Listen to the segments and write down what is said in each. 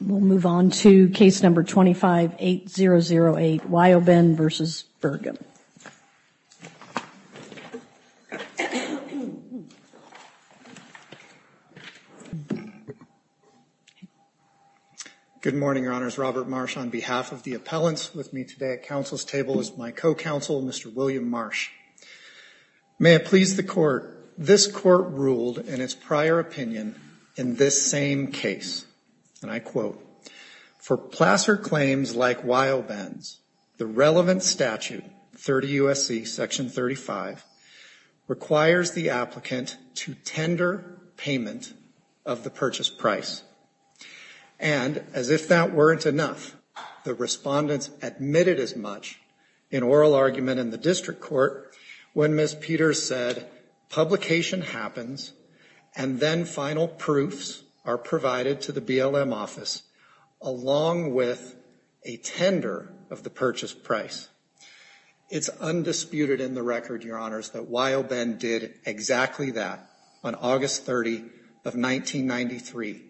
We'll move on to case number 25-8008, Wyo-Ben v. Burgum. Good morning, Your Honors. Robert Marsh on behalf of the appellants with me today at Council's table is my co-counsel, Mr. William Marsh. May it please the Court, this Court ruled in its prior opinion in this same case, and I quote, For placer claims like Wyo-Ben's, the relevant statute, 30 U.S.C. Section 35, requires the applicant to tender payment of the purchase price. And as if that weren't enough, the respondents admitted as much in oral argument in the district court, when Ms. Peters said, publication happens, and then final proofs are provided to the BLM office, along with a tender of the purchase price. It's undisputed in the record, Your Honors, that Wyo-Ben did exactly that on August 30 of 1993,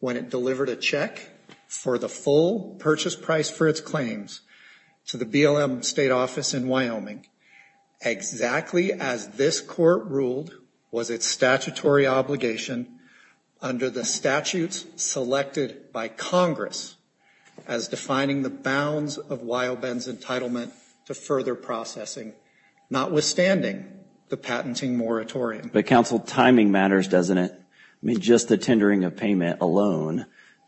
when it delivered a check for the full purchase price for its claims to the BLM state office in Wyoming, exactly as this Court ruled was its statutory obligation under the statutes selected by Congress as defining the bounds of Wyo-Ben's entitlement to further processing, notwithstanding the patenting moratorium. But, Counsel, timing matters, doesn't it? I mean, just the tendering of payment alone,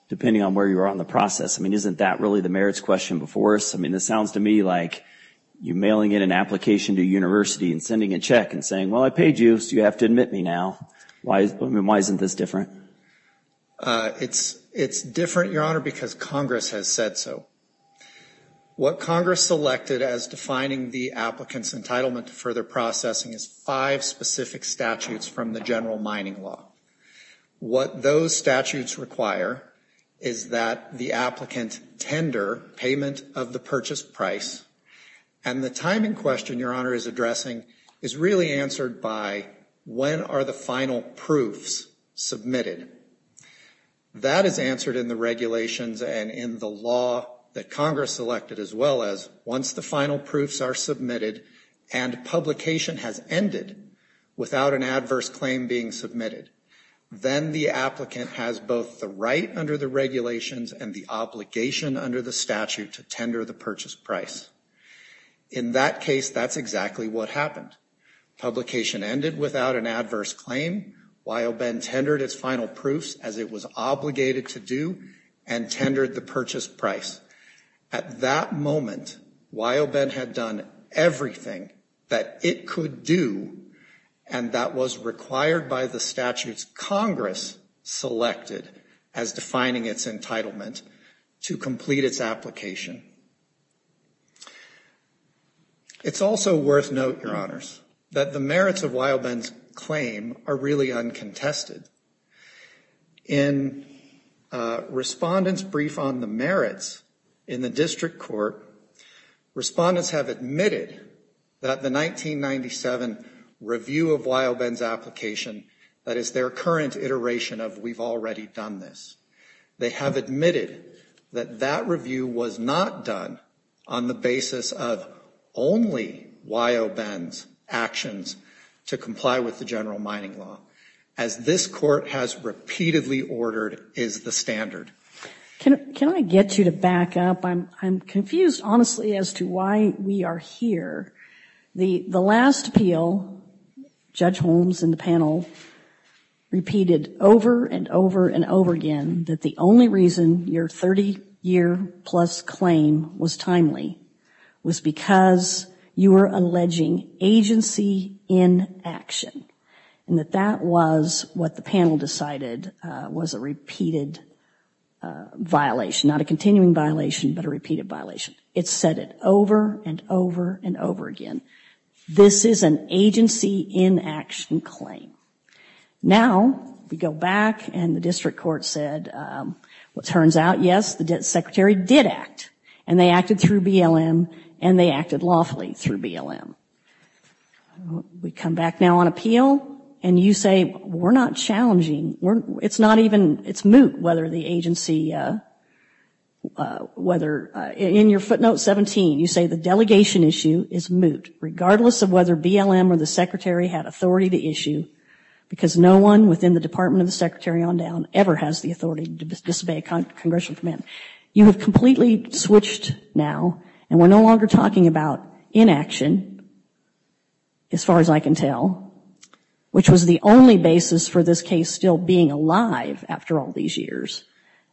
depending on where you are on the process, I mean, isn't that really the merits question before us? I mean, this sounds to me like you mailing in an application to a university and sending a check and saying, Well, I paid you, so you have to admit me now. Why isn't this different? It's different, Your Honor, because Congress has said so. What Congress selected as defining the applicant's entitlement to further processing is five specific statutes from the general mining law. What those statutes require is that the applicant tender payment of the purchase price, and the timing question Your Honor is addressing is really answered by when are the final proofs submitted. That is answered in the regulations and in the law that Congress selected, as well as once the final proofs are submitted and publication has ended without an adverse claim being submitted. Then the applicant has both the right under the regulations and the obligation under the statute to tender the purchase price. In that case, that's exactly what happened. Publication ended without an adverse claim while Ben tendered his final proofs as it was obligated to do and tendered the purchase price. At that moment, while Ben had done everything that it could do, and that was required by the statutes Congress selected as defining its entitlement to complete its application. It's also worth note, Your Honors, that the merits of Wildman's claim are really uncontested. In respondents brief on the merits in the district court, respondents have admitted that the 1997 review of Wildman's application, that is their current iteration of we've already done this. They have admitted that that review was not done on the basis of only Wildman's actions to comply with the general mining law. As this court has repeatedly ordered, is the standard. Can I get you to back up? I'm confused, honestly, as to why we are here. The last appeal, Judge Holmes and the panel repeated over and over and over again that the only reason your 30-year-plus claim was timely was because you were alleging agency in action and that that was what the panel decided was a repeated violation, not a continuing violation, but a repeated violation. It said it over and over and over again. This is an agency in action claim. Now, we go back and the district court said, what turns out, yes, the secretary did act, and they acted through BLM and they acted lawfully through BLM. We come back now on appeal, and you say we're not challenging. It's not even, it's moot whether the agency, whether, in your footnote 17, you say the delegation issue is moot, regardless of whether BLM or the secretary had authority to issue, because no one within the Department of the Secretary on down ever has the authority to disobey a congressional command. You have completely switched now, and we're no longer talking about inaction, as far as I can tell, which was the only basis for this case still being alive after all these years,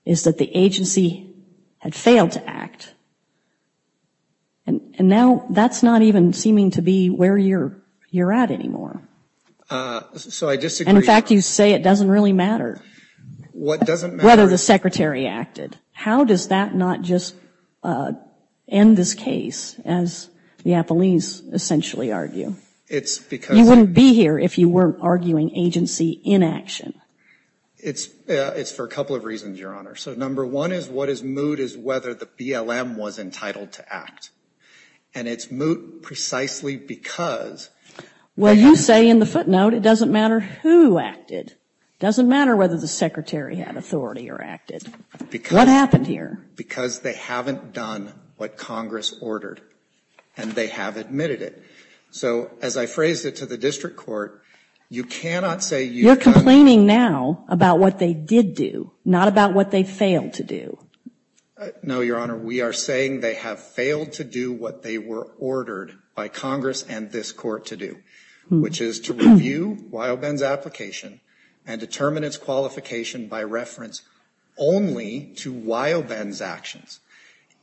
is that the agency had failed to act. And now that's not even seeming to be where you're at anymore. So I disagree. In fact, you say it doesn't really matter. What doesn't matter? Whether the secretary acted. How does that not just end this case, as Neapolese essentially argue? You wouldn't be here if you weren't arguing agency inaction. It's for a couple of reasons, Your Honor. So number one is what is moot is whether the BLM was entitled to act. And it's moot precisely because. Well, you say in the footnote it doesn't matter who acted. It doesn't matter whether the secretary had authority or acted. What happened here? Because they haven't done what Congress ordered, and they have admitted it. So as I phrased it to the district court, you cannot say you've done. You're complaining now about what they did do, not about what they failed to do. No, Your Honor. We are saying they have failed to do what they were ordered by Congress and this court to do, which is to review Wyoben's application and determine its qualification by reference only to Wyoben's actions.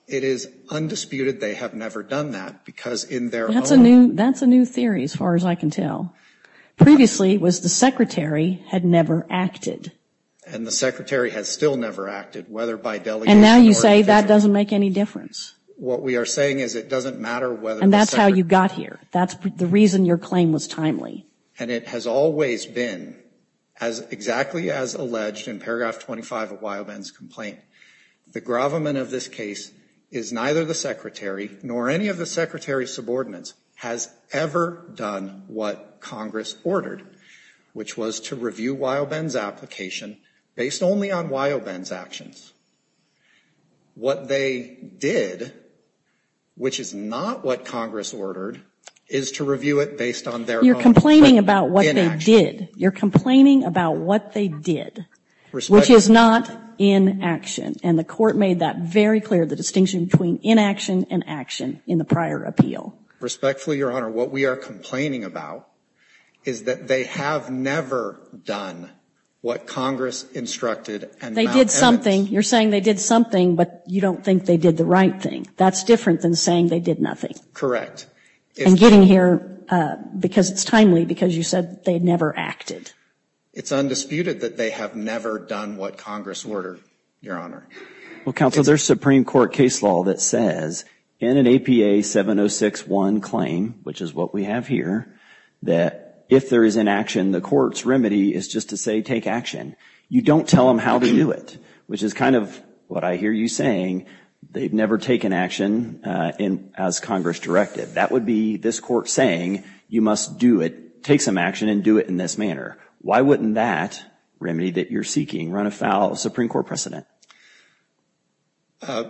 It is undisputed they have never done that because in their own. That's a new theory, as far as I can tell. Previously, it was the secretary had never acted. And the secretary has still never acted, whether by delegation. And now you say that doesn't make any difference. What we are saying is it doesn't matter whether the secretary. And that's how you got here. That's the reason your claim was timely. And it has always been exactly as alleged in paragraph 25 of Wyoben's complaint. The gravamen of this case is neither the secretary nor any of the secretary's subordinates has ever done what Congress ordered, which was to review Wyoben's application based only on Wyoben's actions. What they did, which is not what Congress ordered, is to review it based on their own inaction. You're complaining about what they did. You're complaining about what they did, which is not inaction. And the court made that very clear, the distinction between inaction and action in the prior appeal. Respectfully, Your Honor, what we are complaining about is that they have never done what Congress instructed. They did something. You're saying they did something, but you don't think they did the right thing. That's different than saying they did nothing. And getting here because it's timely because you said they never acted. It's undisputed that they have never done what Congress ordered, Your Honor. Well, counsel, there's Supreme Court case law that says in an APA 706-1 claim, which is what we have here, that if there is inaction, the court's remedy is just to say take action. You don't tell them how to do it, which is kind of what I hear you saying. They've never taken action as Congress directed. That would be this court saying you must do it, take some action and do it in this manner. Why wouldn't that remedy that you're seeking run afoul of Supreme Court precedent?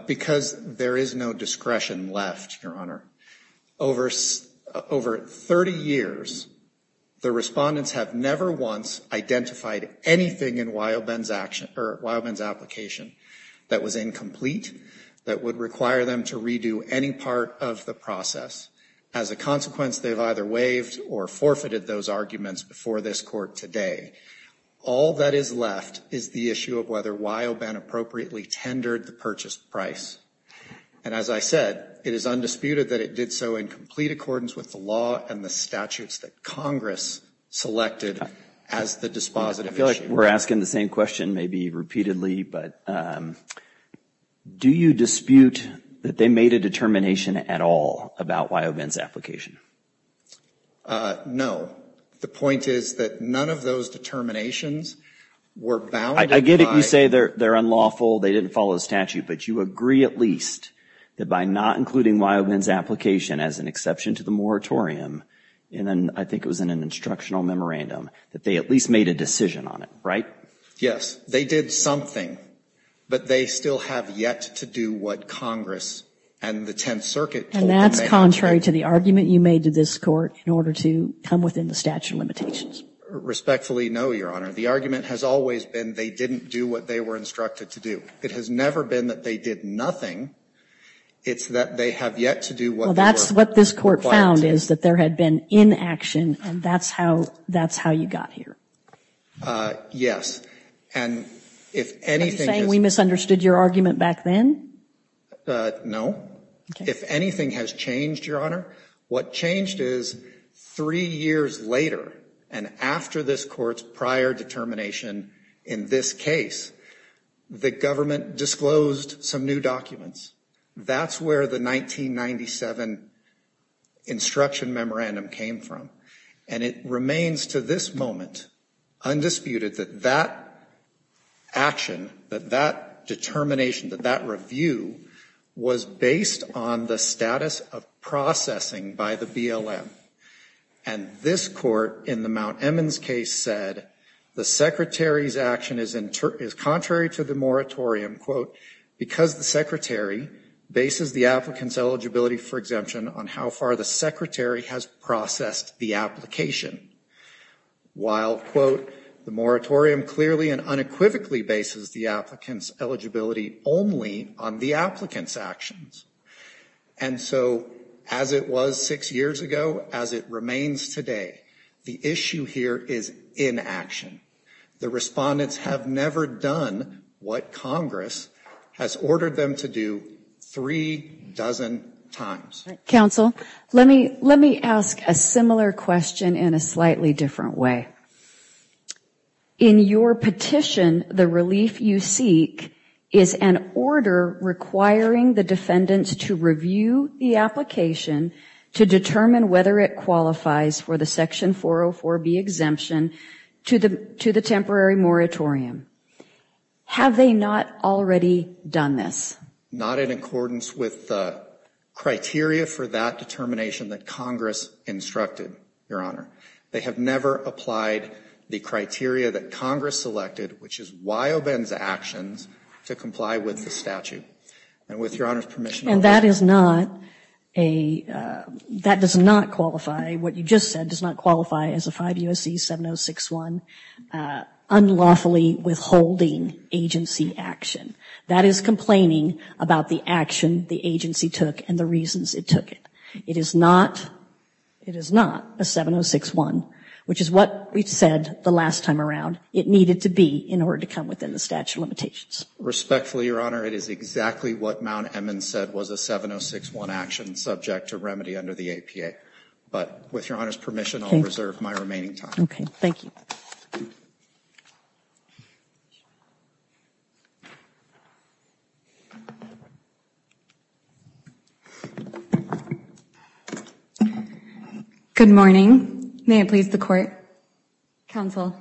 Because there is no discretion left, Your Honor. Over 30 years, the respondents have never once identified anything in Weilben's application that was incomplete that would require them to redo any part of the process. As a consequence, they've either waived or forfeited those arguments before this court today. All that is left is the issue of whether Weilben appropriately tendered the purchase price. And as I said, it is undisputed that it did so in complete accordance with the law and the statutes that Congress selected as the dispositive issue. I feel like we're asking the same question maybe repeatedly, but do you dispute that they made a determination at all about Weilben's application? No. The point is that none of those determinations were bounded by the statute. I get it. You say they're unlawful. They didn't follow the statute. But you agree at least that by not including Weilben's application as an exception to the moratorium, and then I think it was in an instructional memorandum, that they at least made a decision on it, right? Yes. They did something, but they still have yet to do what Congress and the Tenth Circuit told them they had to do. And that's contrary to the argument you made to this Court in order to come within the statute of limitations. Respectfully, no, Your Honor. The argument has always been they didn't do what they were instructed to do. It has never been that they did nothing. It's that they have yet to do what they were required to do. Well, that's what this Court found is that there had been inaction, and that's how you got here. Yes. And if anything is – Are you saying we misunderstood your argument back then? No. Okay. If anything has changed, Your Honor, what changed is three years later and after this Court's prior determination in this case, the government disclosed some new documents. That's where the 1997 instruction memorandum came from. And it remains to this moment undisputed that that action, that that determination, that that review was based on the status of processing by the BLM. And this Court in the Mount Emin's case said the Secretary's action is contrary to the moratorium because the Secretary bases the applicant's eligibility for exemption on how far the Secretary has processed the application. While, quote, the moratorium clearly and unequivocally bases the applicant's eligibility only on the applicant's actions. And so as it was six years ago, as it remains today, the issue here is inaction. The respondents have never done what Congress has ordered them to do three dozen times. Counsel, let me ask a similar question in a slightly different way. In your petition, the relief you seek is an order requiring the defendants to review the application to determine whether it qualifies for the Section 404B exemption to the temporary moratorium. Have they not already done this? Not in accordance with the criteria for that determination that Congress instructed, Your Honor. They have never applied the criteria that Congress selected, which is Wyoben's actions, to comply with the statute. And with Your Honor's permission, I'll ask. And that is not a, that does not qualify, what you just said does not qualify as a 5 U.S.C. 7061 unlawfully withholding agency action. That is complaining about the action the agency took and the reasons it took it. It is not, it is not a 7061, which is what we've said the last time around. It needed to be in order to come within the statute of limitations. Respectfully, Your Honor, it is exactly what Mount Emmons said was a 7061 action subject to remedy under the APA. But with Your Honor's permission, I'll reserve my remaining time. Okay, thank you. Good morning. May it please the court. Counsel.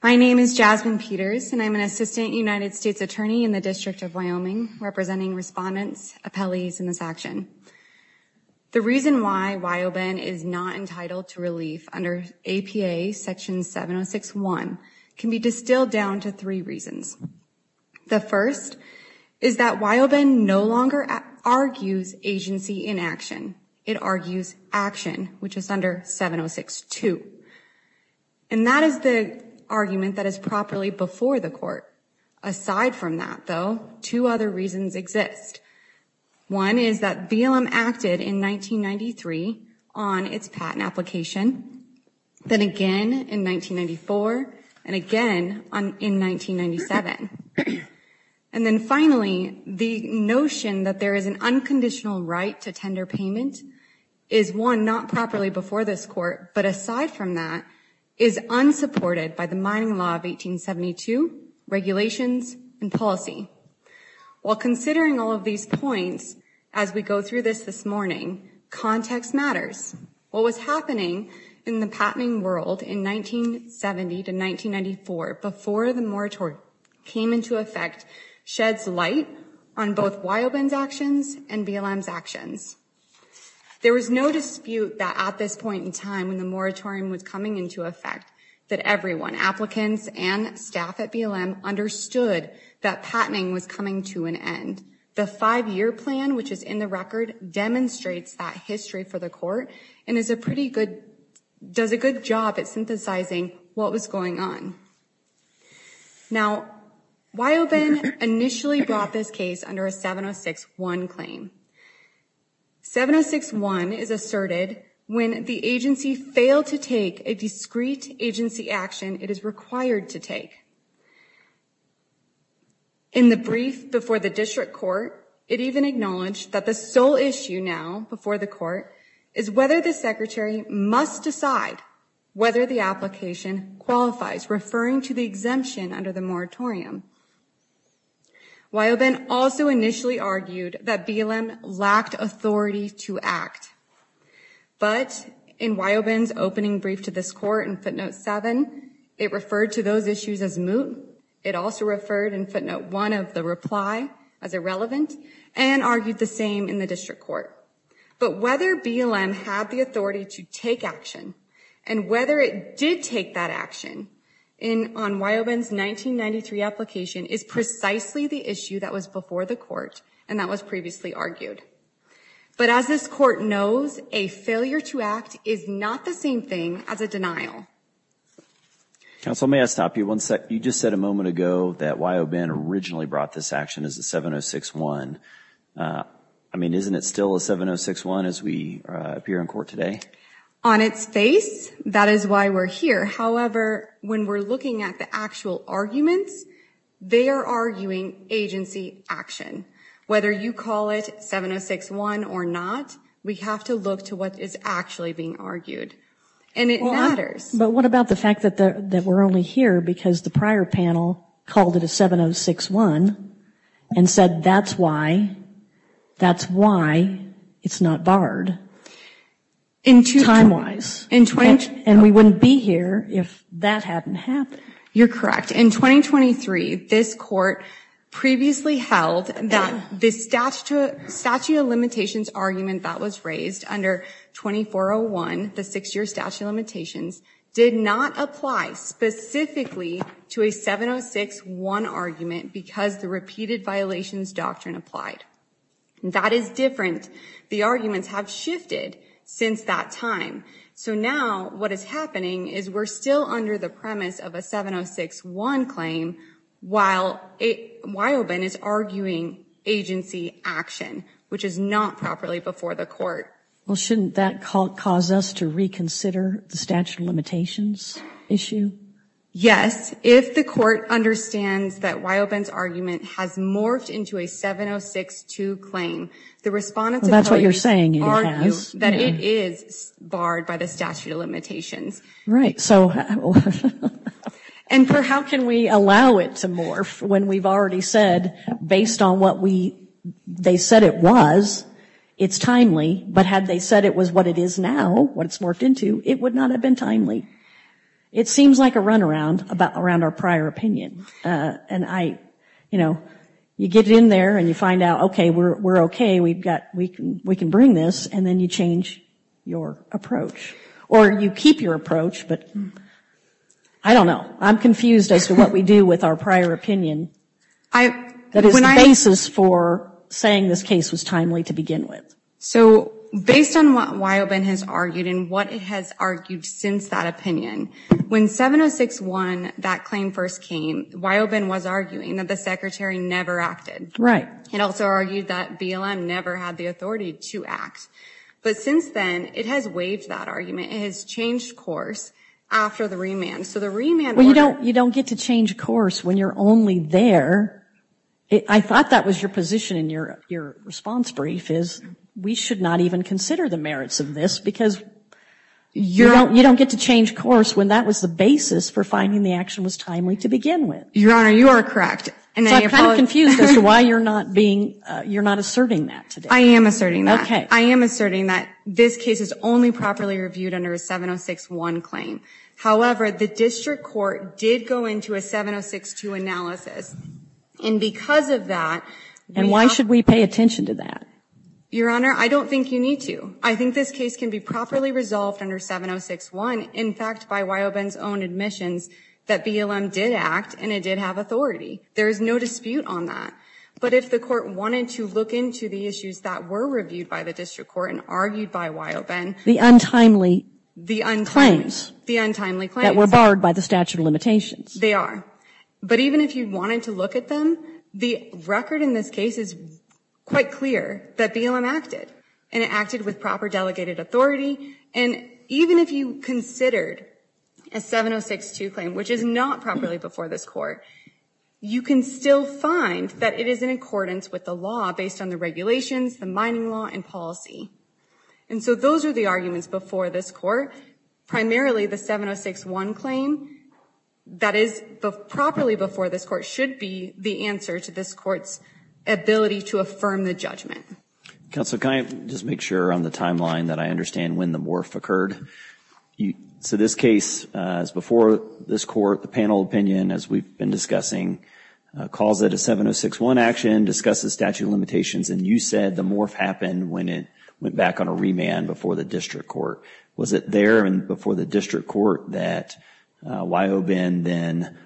My name is Jasmine Peters and I'm an assistant United States attorney in the District of Wyoming representing respondents, appellees in this action. The reason why Wyoben is not entitled to relief under APA section 7061 can be distilled down to three reasons. The first is that Wyoben no longer argues agency inaction. It argues action, which is under 7062. And that is the argument that is properly before the court. Aside from that, though, two other reasons exist. One is that BLM acted in 1993 on its patent application. Then again in 1994 and again in 1997. And then finally, the notion that there is an unconditional right to tender payment is one not properly before this court. But aside from that, is unsupported by the mining law of 1872, regulations and policy. While considering all of these points as we go through this this morning, context matters. What was happening in the patenting world in 1970 to 1994 before the moratorium came into effect sheds light on both Wyoben's actions and BLM's actions. There was no dispute that at this point in time when the moratorium was coming into effect that everyone, applicants and staff at BLM, understood that patenting was coming to an end. And the five-year plan, which is in the record, demonstrates that history for the court and does a good job at synthesizing what was going on. Now, Wyoben initially brought this case under a 706-1 claim. 706-1 is asserted when the agency failed to take a discrete agency action it is required to take. In the brief before the district court, it even acknowledged that the sole issue now before the court is whether the secretary must decide whether the application qualifies, referring to the exemption under the moratorium. Wyoben also initially argued that BLM lacked authority to act. But in Wyoben's opening brief to this court in footnote 7, it referred to those issues as moot. It also referred in footnote 1 of the reply as irrelevant and argued the same in the district court. But whether BLM had the authority to take action and whether it did take that action on Wyoben's 1993 application is precisely the issue that was before the court and that was previously argued. But as this court knows, a failure to act is not the same thing as a denial. Counsel, may I stop you one second? You just said a moment ago that Wyoben originally brought this action as a 706-1. I mean, isn't it still a 706-1 as we appear in court today? On its face, that is why we're here. However, when we're looking at the actual arguments, they are arguing agency action. Whether you call it 706-1 or not, we have to look to what is actually being argued. And it matters. But what about the fact that we're only here because the prior panel called it a 706-1 and said that's why, that's why it's not barred, time-wise. And we wouldn't be here if that hadn't happened. You're correct. In 2023, this court previously held that the statute of limitations argument that was raised under 2401, the six-year statute of limitations, did not apply specifically to a 706-1 argument because the repeated violations doctrine applied. That is different. The arguments have shifted since that time. So now what is happening is we're still under the premise of a 706-1 claim while Wyobin is arguing agency action, which is not properly before the court. Well, shouldn't that cause us to reconsider the statute of limitations issue? Yes. If the court understands that Wyobin's argument has morphed into a 706-2 claim, Well, that's what you're saying it has. that it is barred by the statute of limitations. And how can we allow it to morph when we've already said, based on what they said it was, it's timely. But had they said it was what it is now, what it's morphed into, it would not have been timely. It seems like a runaround around our prior opinion. You know, you get in there and you find out, okay, we're okay, we can bring this, and then you change your approach. Or you keep your approach, but I don't know. I'm confused as to what we do with our prior opinion. That is the basis for saying this case was timely to begin with. So based on what Wyobin has argued and what it has argued since that opinion, when 706-1, that claim first came, Wyobin was arguing that the Secretary never acted. Right. And also argued that BLM never had the authority to act. But since then, it has waived that argument. It has changed course after the remand. So the remand order Well, you don't get to change course when you're only there. I thought that was your position in your response brief, is we should not even consider the merits of this, because you don't get to change course when that was the basis for finding the action was timely to begin with. Your Honor, you are correct. So I'm kind of confused as to why you're not asserting that today. I am asserting that. Okay. I am asserting that this case is only properly reviewed under a 706-1 claim. However, the district court did go into a 706-2 analysis, and because of that And why should we pay attention to that? Your Honor, I don't think you need to. I think this case can be properly resolved under 706-1. In fact, by Wyoben's own admissions, that BLM did act, and it did have authority. There is no dispute on that. But if the court wanted to look into the issues that were reviewed by the district court and argued by Wyoben The untimely claims The untimely claims That were barred by the statute of limitations. They are. But even if you wanted to look at them, the record in this case is quite clear that BLM acted. And it acted with proper delegated authority. And even if you considered a 706-2 claim, which is not properly before this court You can still find that it is in accordance with the law based on the regulations, the mining law, and policy. And so those are the arguments before this court. Primarily the 706-1 claim that is properly before this court should be the answer to this court's ability to affirm the judgment. Counsel, can I just make sure on the timeline that I understand when the morph occurred? So this case is before this court. The panel opinion, as we've been discussing, calls it a 706-1 action, discusses statute of limitations. And you said the morph happened when it went back on a remand before the district court. Was it there and before the district court that Wyoben then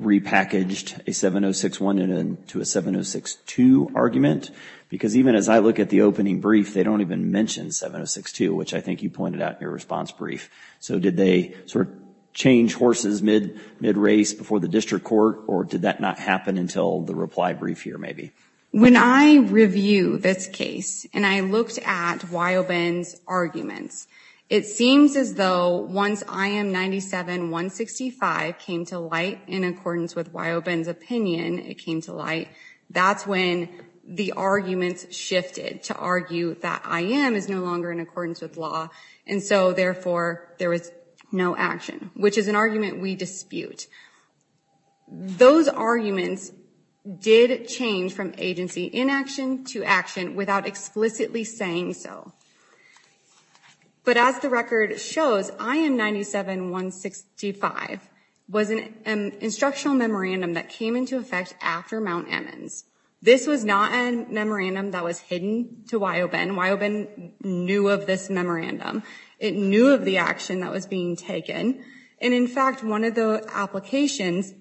repackaged a 706-1 into a 706-2 argument? Because even as I look at the opening brief, they don't even mention 706-2, which I think you pointed out in your response brief. So did they sort of change horses mid race before the district court? Or did that not happen until the reply brief here maybe? When I review this case and I looked at Wyoben's arguments, it seems as though once IM 97-165 came to light in accordance with Wyoben's opinion, it came to light. That's when the arguments shifted to argue that IM is no longer in accordance with law. And so, therefore, there was no action, which is an argument we dispute. Those arguments did change from agency inaction to action without explicitly saying so. But as the record shows, IM 97-165 was an instructional memorandum that came into effect after Mount Emmons. This was not a memorandum that was hidden to Wyoben. Wyoben knew of this memorandum. It knew of the action that was being taken. And in fact, one of the applications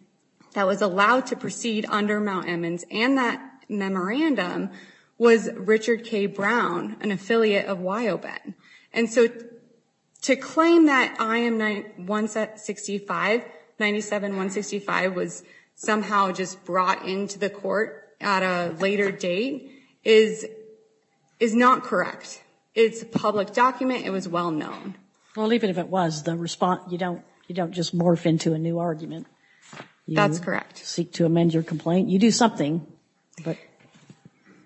that was allowed to proceed under Mount Emmons and that memorandum was Richard K. Brown, an affiliate of Wyoben. And so to claim that IM 97-165 was somehow just brought into the court at a later date is not correct. It's a public document. It was well known. Well, even if it was, you don't just morph into a new argument. That's correct. You do something, but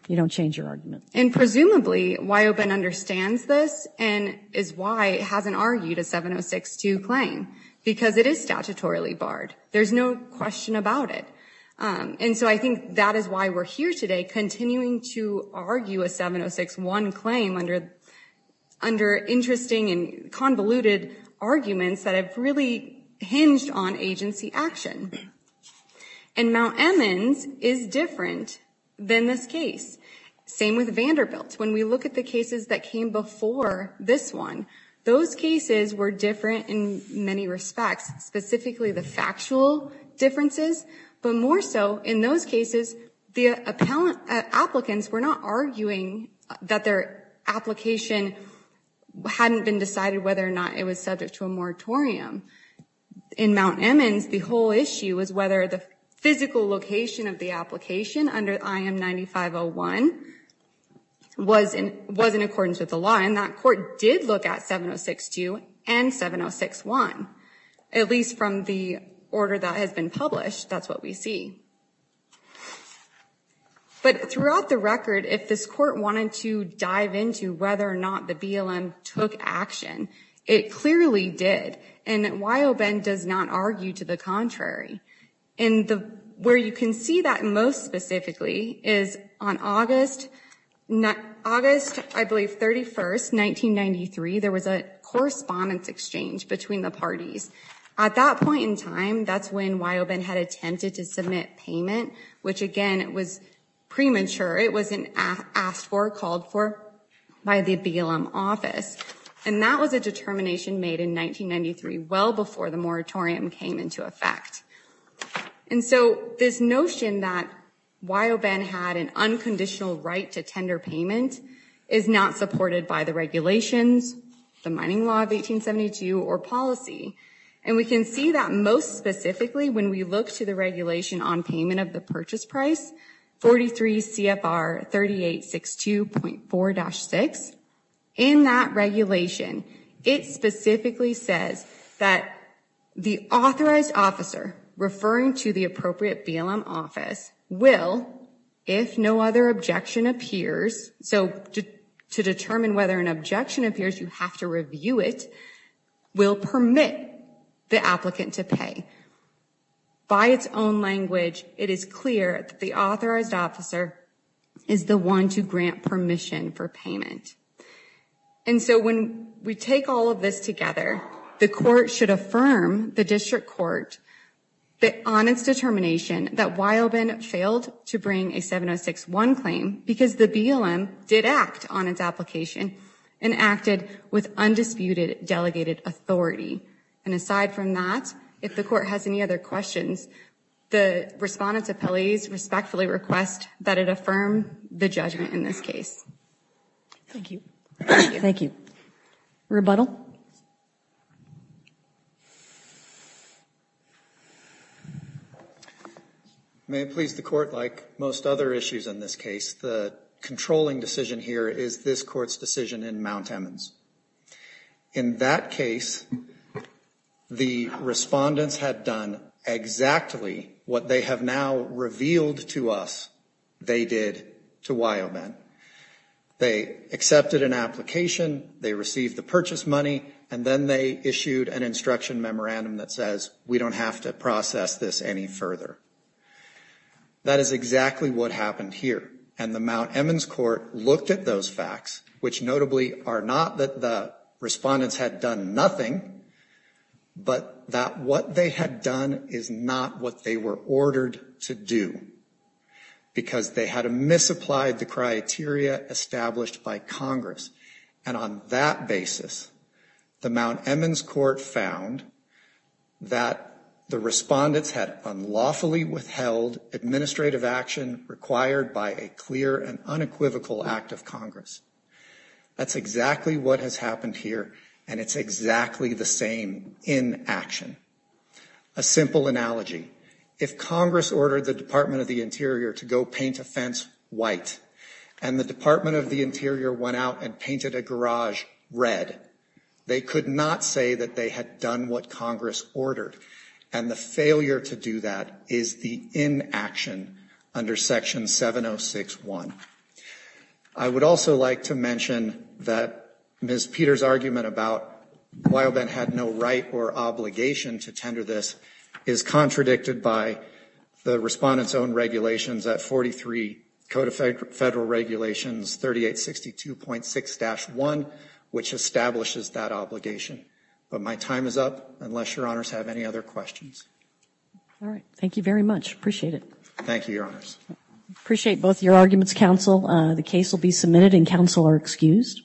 you don't change your argument. And presumably, Wyoben understands this and is why it hasn't argued a 706-2 claim, because it is statutorily barred. There's no question about it. And so I think that is why we're here today, continuing to argue a 706-1 claim under interesting and convoluted arguments that have really hinged on agency action. And Mount Emmons is different than this case. Same with Vanderbilt. When we look at the cases that came before this one, those cases were different in many respects, specifically the factual differences, but more so in those cases, the applicants were not arguing that their application hadn't been decided whether or not it was subject to a moratorium. In Mount Emmons, the whole issue was whether the physical location of the application under IM-9501 was in accordance with the law, and that court did look at 706-2 and 706-1, at least from the order that has been published. That's what we see. But throughout the record, if this court wanted to dive into whether or not the BLM took action, it clearly did, and Wyoben does not argue to the contrary. And where you can see that most specifically is on August, I believe, 31st, 1993, there was a correspondence exchange between the parties. At that point in time, that's when Wyoben had attempted to submit payment, which, again, was premature. It wasn't asked for or called for by the BLM office. And that was a determination made in 1993, well before the moratorium came into effect. And so this notion that Wyoben had an unconditional right to tender payment is not supported by the regulations, the mining law of 1872, or policy. And we can see that most specifically when we look to the regulation on payment of the purchase price, 43 CFR 3862.4-6. In that regulation, it specifically says that the authorized officer referring to the appropriate BLM office will, if no other objection appears, so to determine whether an objection appears, you have to review it, will permit the applicant to pay. By its own language, it is clear that the authorized officer is the one to grant permission for payment. And so when we take all of this together, the court should affirm, the district court, on its determination that Wyoben failed to bring a 706-1 claim because the BLM did act on its application and acted with undisputed delegated authority. And aside from that, if the court has any other questions, the respondents' appellees respectfully request that it affirm the judgment in this case. Thank you. Thank you. Rebuttal? May it please the court, like most other issues in this case, the controlling decision here is this court's decision in Mount Emmons. In that case, the respondents had done exactly what they have now revealed to us they did to Wyoben. They accepted an application, they received the purchase money, and then they issued an instruction memorandum that says we don't have to process this any further. That is exactly what happened here. And the Mount Emmons court looked at those facts, which notably are not that the respondents had done nothing, but that what they had done is not what they were ordered to do because they had misapplied the criteria established by Congress. And on that basis, the Mount Emmons court found that the respondents had unlawfully withheld administrative action required by a clear and unequivocal act of Congress. That's exactly what has happened here, and it's exactly the same in action. A simple analogy. If Congress ordered the Department of the Interior to go paint a fence white, and the Department of the Interior went out and painted a garage red, they could not say that they had done what Congress ordered, and the failure to do that is the inaction under Section 706.1. I would also like to mention that Ms. Peter's argument about Wyoben had no right or obligation to tender this is contradicted by the respondents' own regulations at 43 Code of Federal Regulations 3862.6-1, which establishes that obligation. But my time is up, unless your honors have any other questions. All right. Thank you very much. Appreciate it. Thank you, your honors. Appreciate both your arguments, counsel. The case will be submitted, and counsel are excused.